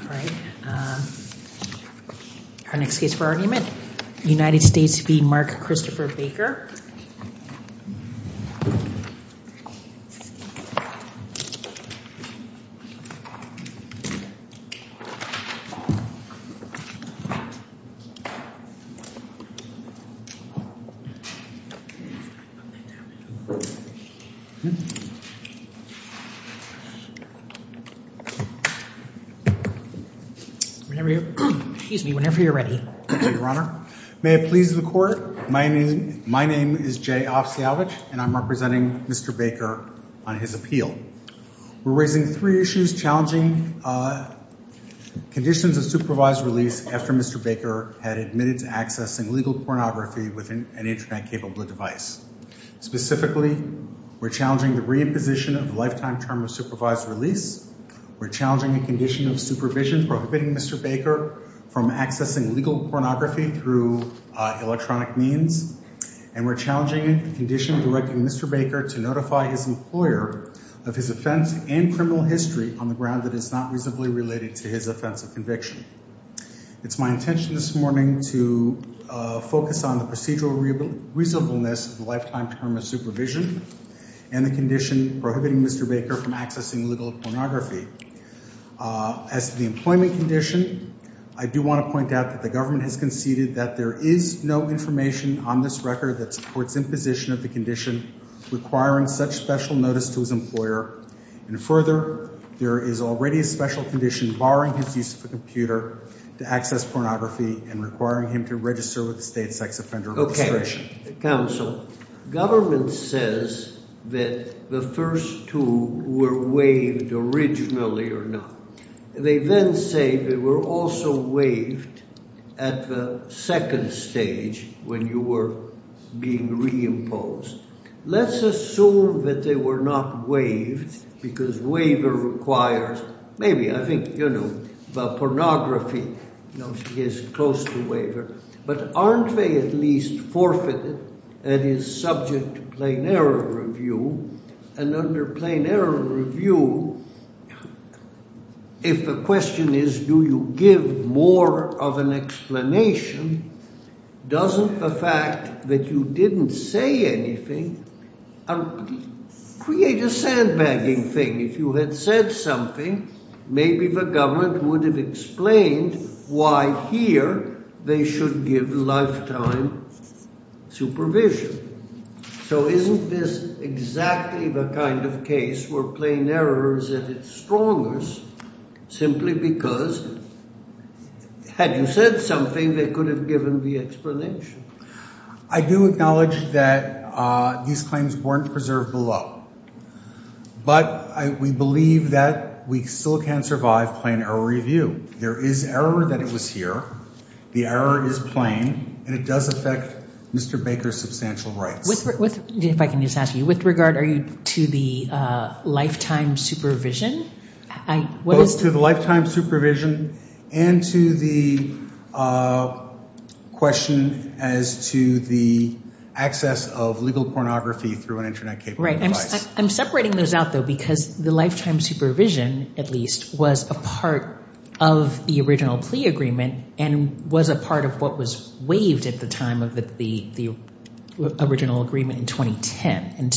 All right, our next case for argument, United States v. Mark Christopher Baker. Whenever you're ready. Your Honor, may it please the court, my name my name is Jay Opsiowicz and I'm representing Mr. Baker on his appeal. We're raising three issues challenging conditions of supervised release after Mr. Baker had admitted to accessing legal pornography with an internet-capable device. Specifically, we're challenging the reimposition of lifetime term of supervised release. We're challenging a condition of supervision prohibiting Mr. Baker from accessing legal pornography through electronic means. And we're challenging a condition directing Mr. Baker to notify his employer of his offense and criminal history on the ground that is not reasonably related to his offense of conviction. It's my intention this morning to focus on the procedural reasonableness of the lifetime term of supervision and the condition prohibiting Mr. Baker from accessing legal pornography. As the employment condition, I do want to point out that the government has conceded that there is no information on this record that supports imposition of the condition requiring such special notice to his employer. And further, there is already a special condition barring his use of a computer to access pornography and requiring him to register with the State Sex Offender Registration. Okay. Counsel, government says that the first two were waived originally or not. They then say they were also waived at the second stage when you were being reimposed. Let's assume that they were not waived because waiver requires maybe, I think, you know, pornography is close to waiver. But aren't they at least forfeited and is subject to plain error review? And under plain error review, if the question is do you give more of an explanation, doesn't the fact that you didn't say anything create a sandbagging thing? If you had said something, maybe the government would have explained why here they should give lifetime supervision. So isn't this exactly the kind of case where plain error is at its strongest simply because had you said something, they could have given the explanation. I do acknowledge that these claims weren't preserved below. But we believe that we still can't survive plain error review. There is error that it was here. The error is plain. And it does affect Mr. Baker's substantial rights. If I can just ask you, with regard to the lifetime supervision? To the lifetime supervision and to the question as to the access of legal rights, the lifetime supervision, at least, was a part of the original plea agreement and was a part of what was waived at the time of the original agreement in 2010.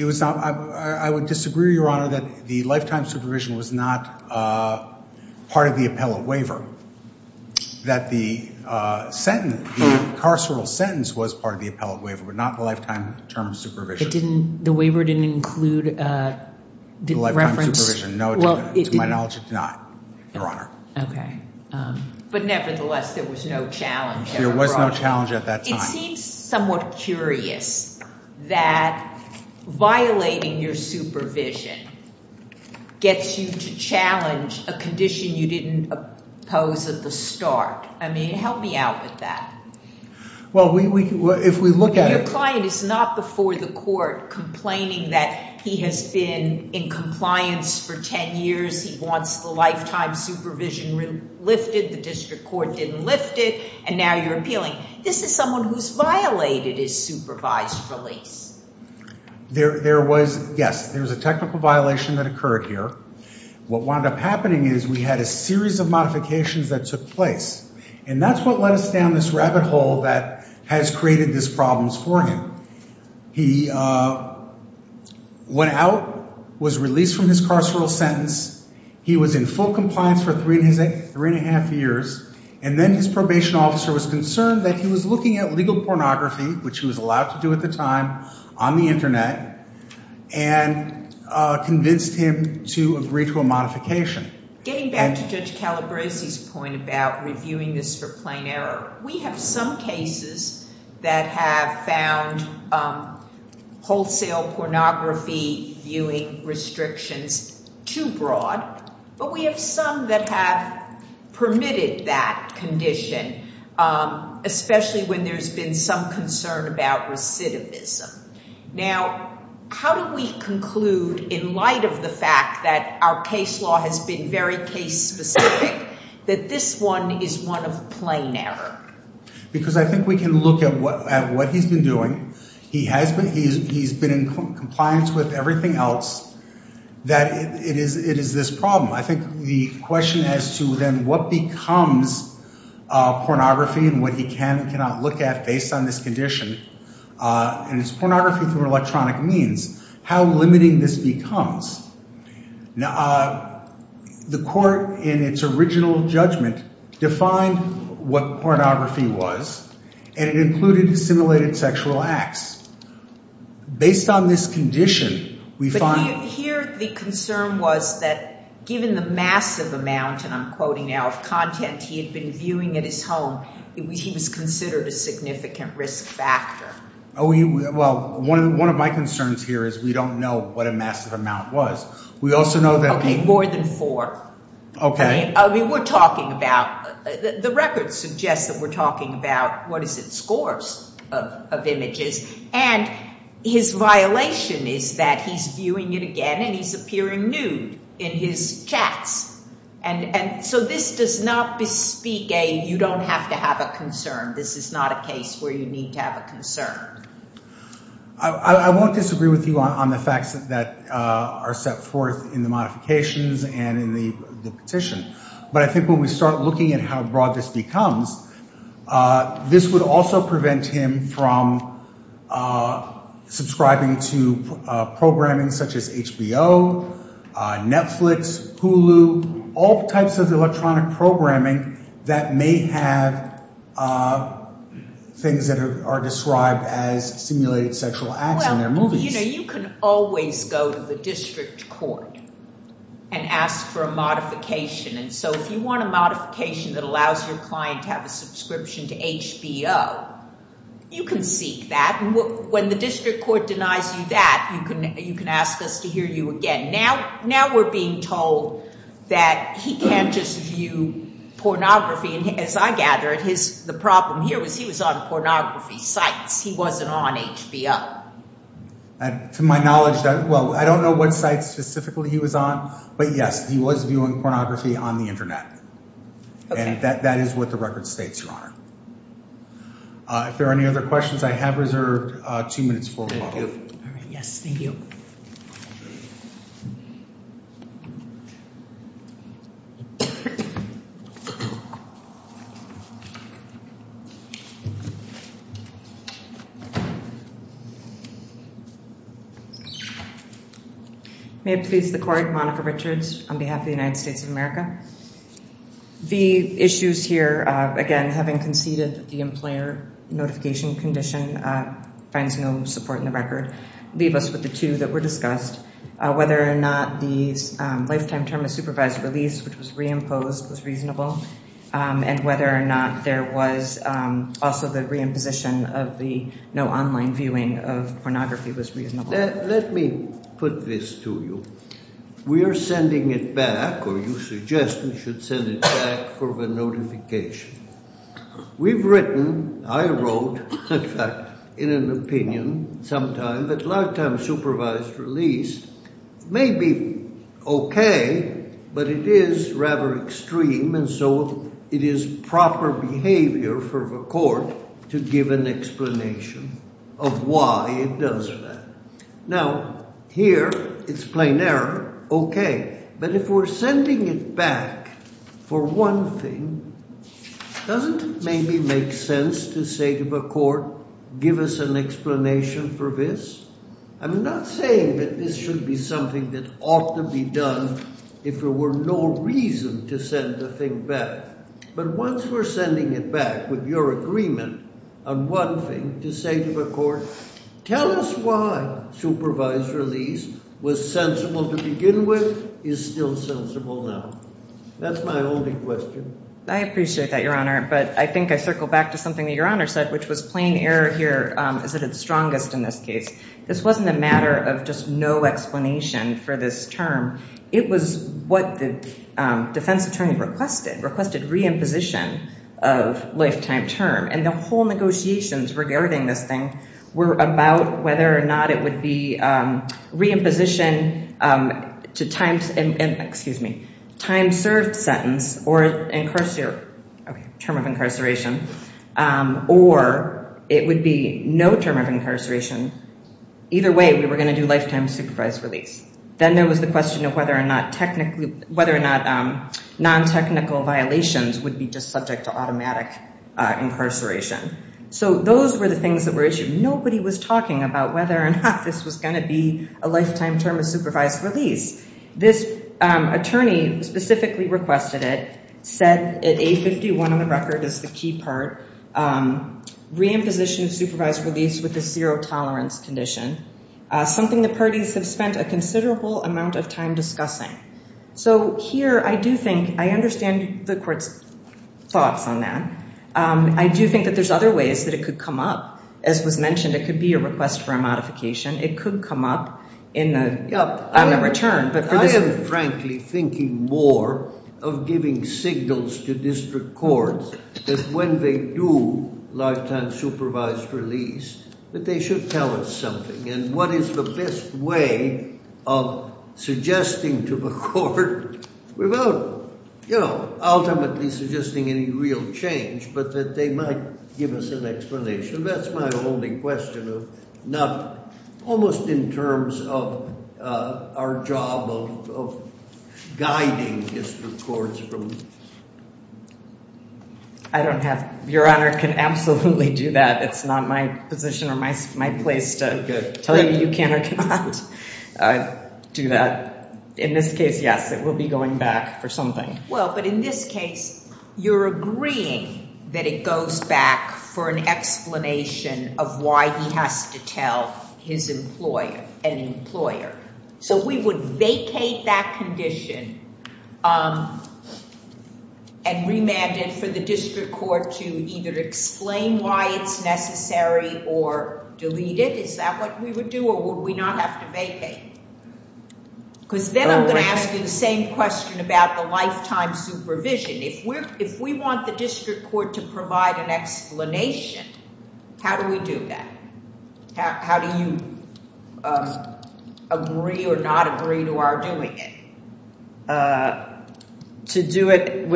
I would disagree, Your Honor, that the lifetime supervision was not part of the appellate waiver. That the sentence, the waiver didn't include reference. To my knowledge, it did not, Your Honor. But nevertheless, there was no challenge. There was no challenge at that time. It seems somewhat curious that violating your supervision gets you to challenge a condition you didn't oppose at the start. Help me out with that. Your client is not before the court complaining that he has been in compliance for 10 years. He wants the lifetime supervision lifted. The district court didn't lift it. And now you're appealing. This is someone who's violated his supervised release. There was, yes, there was a technical violation that occurred here. What wound up happening is we had a series of modifications that took place. And that's what led us down this rabbit hole that has created these problems for him. He went out, was released from his carceral sentence. He was in full compliance for three and a half years. And then his probation officer was concerned that he was allowed to do at the time on the Internet and convinced him to agree to a modification. Getting back to Judge Calabresi's point about reviewing this for plain error, we have some cases that have found wholesale pornography viewing restrictions too broad. But we have some that have permitted that condition, especially when there's been some concern about recidivism. Now, how do we conclude in light of the fact that our case law has been very case specific that this one is one of plain error? Because I think we can look at what he's been doing. He has been in compliance with everything else that it is this problem. I think the question as to then what becomes pornography and what he can and cannot look at based on this condition, and it's pornography through electronic means, how limiting this becomes. The court in its original judgment defined what pornography was. And it included assimilated sexual acts. Based on this given the massive amount, and I'm quoting now, of content he had been viewing at his home, he was considered a significant risk factor. Well, one of my concerns here is we don't know what a massive amount was. We also know that... Okay, more than four. Okay. I mean, we're talking about, the record suggests that we're talking about, what is it, scores of images. And his violation is that he's viewing it again and he's chatting. And so this does not bespeak a, you don't have to have a concern. This is not a case where you need to have a concern. I won't disagree with you on the facts that are set forth in the modifications and in the petition. But I think when we start looking at how broad this becomes, this would also prevent him from subscribing to programming such as HBO, Netflix, Hulu, all types of electronic programming that may have things that are described as assimilated sexual acts in their movies. Well, you know, you can always go to the district court and ask for a modification. And so if you want a modification that allows your client to have a subscription to HBO, you can seek that. And when the district court denies you that, you can ask us to hear you again. Now we're being told that he can't just view pornography. And as I gather it, the problem here was he was on pornography sites. He wasn't on HBO. To my knowledge, well, I don't know what sites specifically he was on, but yes, he was viewing pornography on the internet. And that is what the record states, Your Honor. If there are any other questions, I have reserved two minutes for Yes, thank you. May it please the court, Monica Richards on behalf of the United States of America. The issues here, again, having conceded the employer notification condition finds no support in the record. Leave us with the two that were discussed, whether or not the lifetime term of supervised release, which was reimposed, was reasonable, and whether or not there was also the reimposition of the no online viewing of pornography was reasonable. Let me put this to you. We are sending it back, or you suggest we should send it back for the notification. We've written, I wrote, in fact, in an opinion sometime that lifetime supervised release may be okay, but it is rather extreme, and so it is proper behavior for the court to give an explanation of why it does that. Now, here, it's plain error, okay, but if we're sending it back for one thing, doesn't it maybe make sense to say to the court, give us an explanation for this? I'm not saying that this should be something that ought to be done if there were no reason to send the thing back, but once we're sending it back with your agreement on one thing, to say to the court, tell us why supervised release was sensible to begin with, is still sensible now. That's my only question. I appreciate that, Your Honor, but I think I circle back to something that Your Honor said, which was plain error here is at its strongest in this case. This wasn't a matter of just no explanation for this term. It was what the defense attorney requested, requested re-imposition of lifetime term, and the whole negotiations regarding this thing were about whether or not it would be re-imposition to time served sentence or term of incarceration, or it would be no term of incarceration. Either way, we were going to do lifetime supervised release. Then there was the question of whether or not non-technical violations would be just subject to automatic incarceration. So those were the things that were issued. Nobody was talking about whether or not this was going to be a lifetime term of supervised release. This attorney specifically requested it, said at 851 on the record is the key part, re-imposition of supervised release with a zero tolerance condition, something the parties have spent a considerable amount of time discussing. So here I do think I understand the court's thoughts on that. I do think that there's other ways that it could come up. As was mentioned, it could be a request for a modification. It could come up in the return. I am frankly thinking more of giving signals to district courts that when they do lifetime supervised release, that they should tell us something, and what is the best way of suggesting to the court without ultimately suggesting any real change, but that they might give us an explanation. That's my only question, almost in terms of our job of guiding district courts. I don't have... Your Honor can absolutely do that. It's not my position or my place to tell you you can or cannot do that. In this case, yes, it will be going back for something. Well, but in this case, you're agreeing that it goes back for an explanation of why he has to tell his employer, an employer. So we would vacate that condition and remand it for the district court to either explain why it's necessary or delete it? Is that what we would do, or would we not have to vacate? Because then I'm going to ask you the same question about the lifetime supervision. If we want the district court to provide an explanation, how do we do that? How do you agree or not agree to our doing it? To do it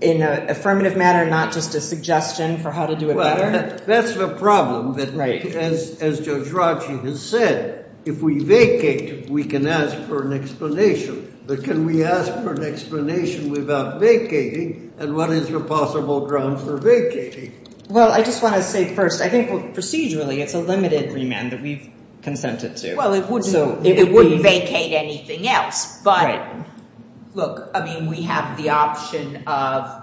in an affirmative manner, not just a suggestion for how to do it better? Well, that's the problem, as Judge Rotchie has said. If we vacate, we can ask for an explanation. But can we ask for an explanation without vacating, and what is the possible grounds for vacating? Well, I just want to say first, I think procedurally, it's a limited remand that we've consented to. Well, it wouldn't vacate anything else. But look, I mean, we have the option of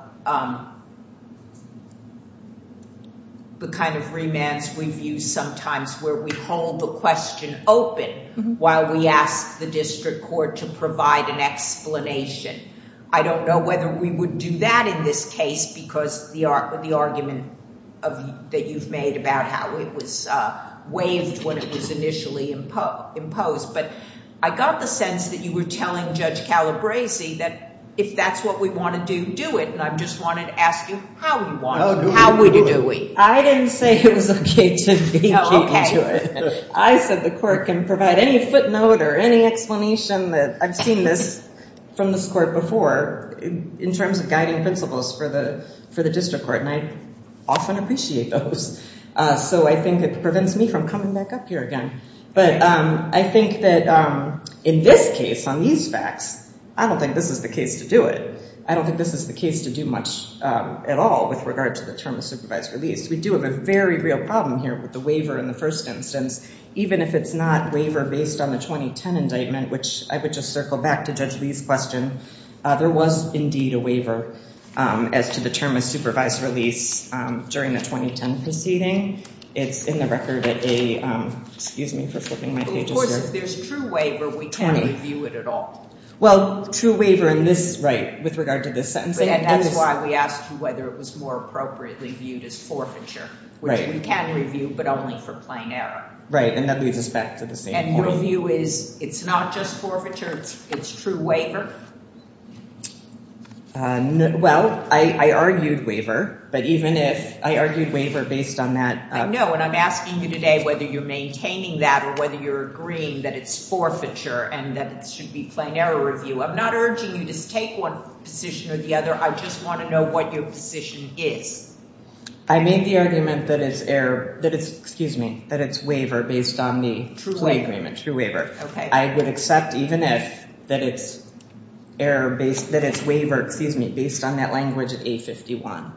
the kind of remands we've used sometimes where we hold the question open while we ask the district court to provide an explanation. I don't know whether we would do that in this case because of the argument that you've made about how it was waived when it was initially imposed. But I got the sense that you were telling Judge Calabresi that if that's what we want to do, do it. And I just wanted to ask you how you want to do it. How would you do it? I didn't say it was okay to vacate into it. I said the court can provide any footnote or any explanation. I've seen this from this court before in terms of guiding principles for the district court, and I often appreciate those. So I think it prevents me from coming back up here again. But I think that in this case, on these facts, I don't think this is the case to do it. I don't think this is the case to do much at all with regard to the term of supervised release. We do have a very real problem here with the waiver in the first instance. Even if it's not waiver based on the 2010 indictment, which I would just circle back to Judge Lee's question, there was indeed a waiver as to the term of supervised release during the 2010 proceeding. It's in the record at a, excuse me for flipping my pages here. Of course, if there's true waiver, we can't review it at all. Well, true waiver in this, right, with regard to this sentence. And that's why we asked you whether it was more appropriately viewed as Right, and that leads us back to the same point. And your view is it's not just forfeiture, it's true waiver? Well, I argued waiver, but even if I argued waiver based on that... I know, and I'm asking you today whether you're maintaining that or whether you're agreeing that it's forfeiture and that it should be plain error review. I'm not urging you to take one position or the other. I just want to know what your position is. I made the argument that it's error, that it's, excuse me, that it's waiver based on the agreement, true waiver. I would accept even if that it's error based, that it's waiver, excuse me, based on that language at A51.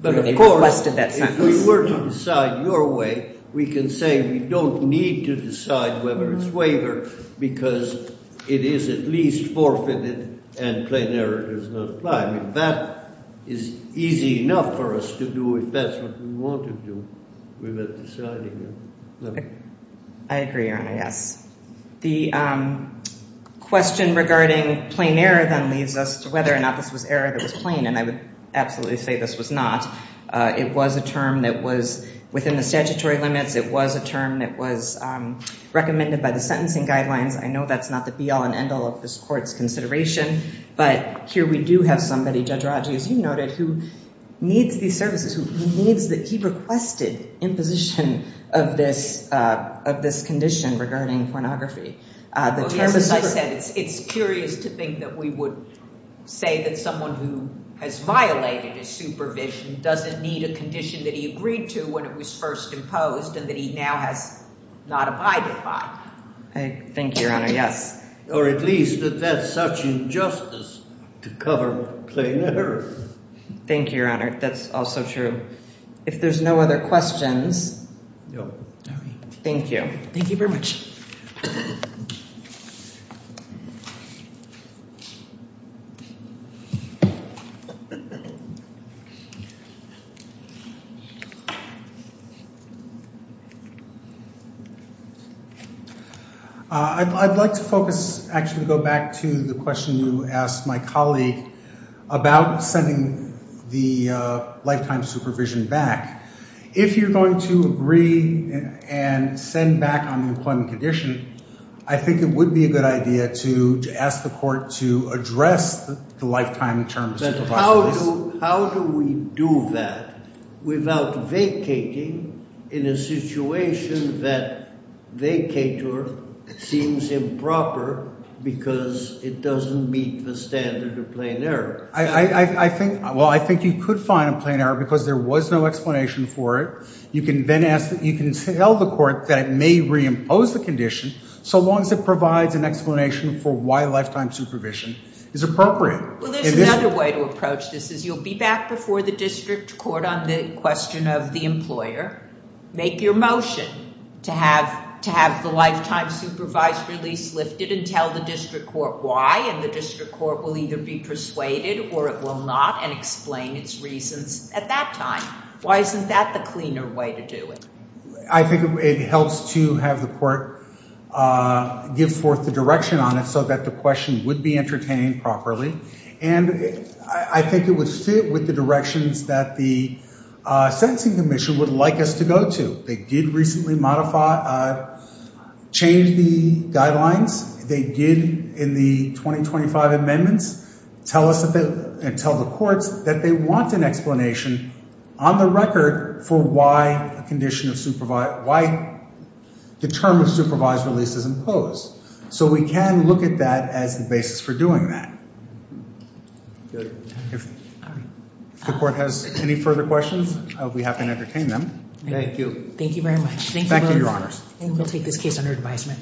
But of course, if we were to decide your way, we can say we don't need to decide whether it's waiver because it is at least forfeited and plain error does not apply. I mean, that is easy enough for us to do if that's what we want to do. We were deciding it. I agree, Your Honor, yes. The question regarding plain error then leads us to whether or not this was error that was plain, and I would absolutely say this was not. It was a term that was within the statutory limits. It was a term that was recommended by the sentencing guidelines. I know that's not the be all and end all. I know somebody, Judge Rodgers, you noted, who needs these services, who needs that he requested imposition of this condition regarding pornography. As I said, it's curious to think that we would say that someone who has violated his supervision doesn't need a condition that he agreed to when it was first imposed and that he now has not abided by. I think, Your Honor, yes. Or at least that that's such injustice to cover plain error. Thank you, Your Honor. That's also true. If there's no other questions. No. Thank you. Thank you very much. Thank you. I'd like to focus, actually go back to the question you asked my colleague about sending the lifetime supervision back. If you're going to agree and send back on the employment condition, I think it would be a good idea to ask the court to address the lifetime terms. But how do we do that without vacating in a situation that vacator seems improper because it doesn't meet the standard of plain error? Well, I think you could find a plain error because there was no explanation for it. You can tell the court that it may reimpose the condition so long as it provides an explanation for why lifetime supervision is appropriate. Well, there's another way to approach this is you'll be back before the district court on the question of the employer, make your motion to have the lifetime supervised release lifted and tell the district court why. And the district court will either be persuaded or it will not and explain its reasons at that time. Why isn't that the cleaner way to do it? I think it helps to have the court give forth the direction on it so that the question would be entertained properly. And I think it would fit with the directions that the sentencing commission would like us to go to. They did recently modify, change the guidelines. They did in the 2025 amendments tell us and tell the courts that they want an explanation on the record for why the term of supervised release is imposed. So we can look at that as the basis for doing that. If the court has any further questions, we have to entertain them. Thank you. Thank you very much. Thank you, Your Honors. And we'll take this case under advisement.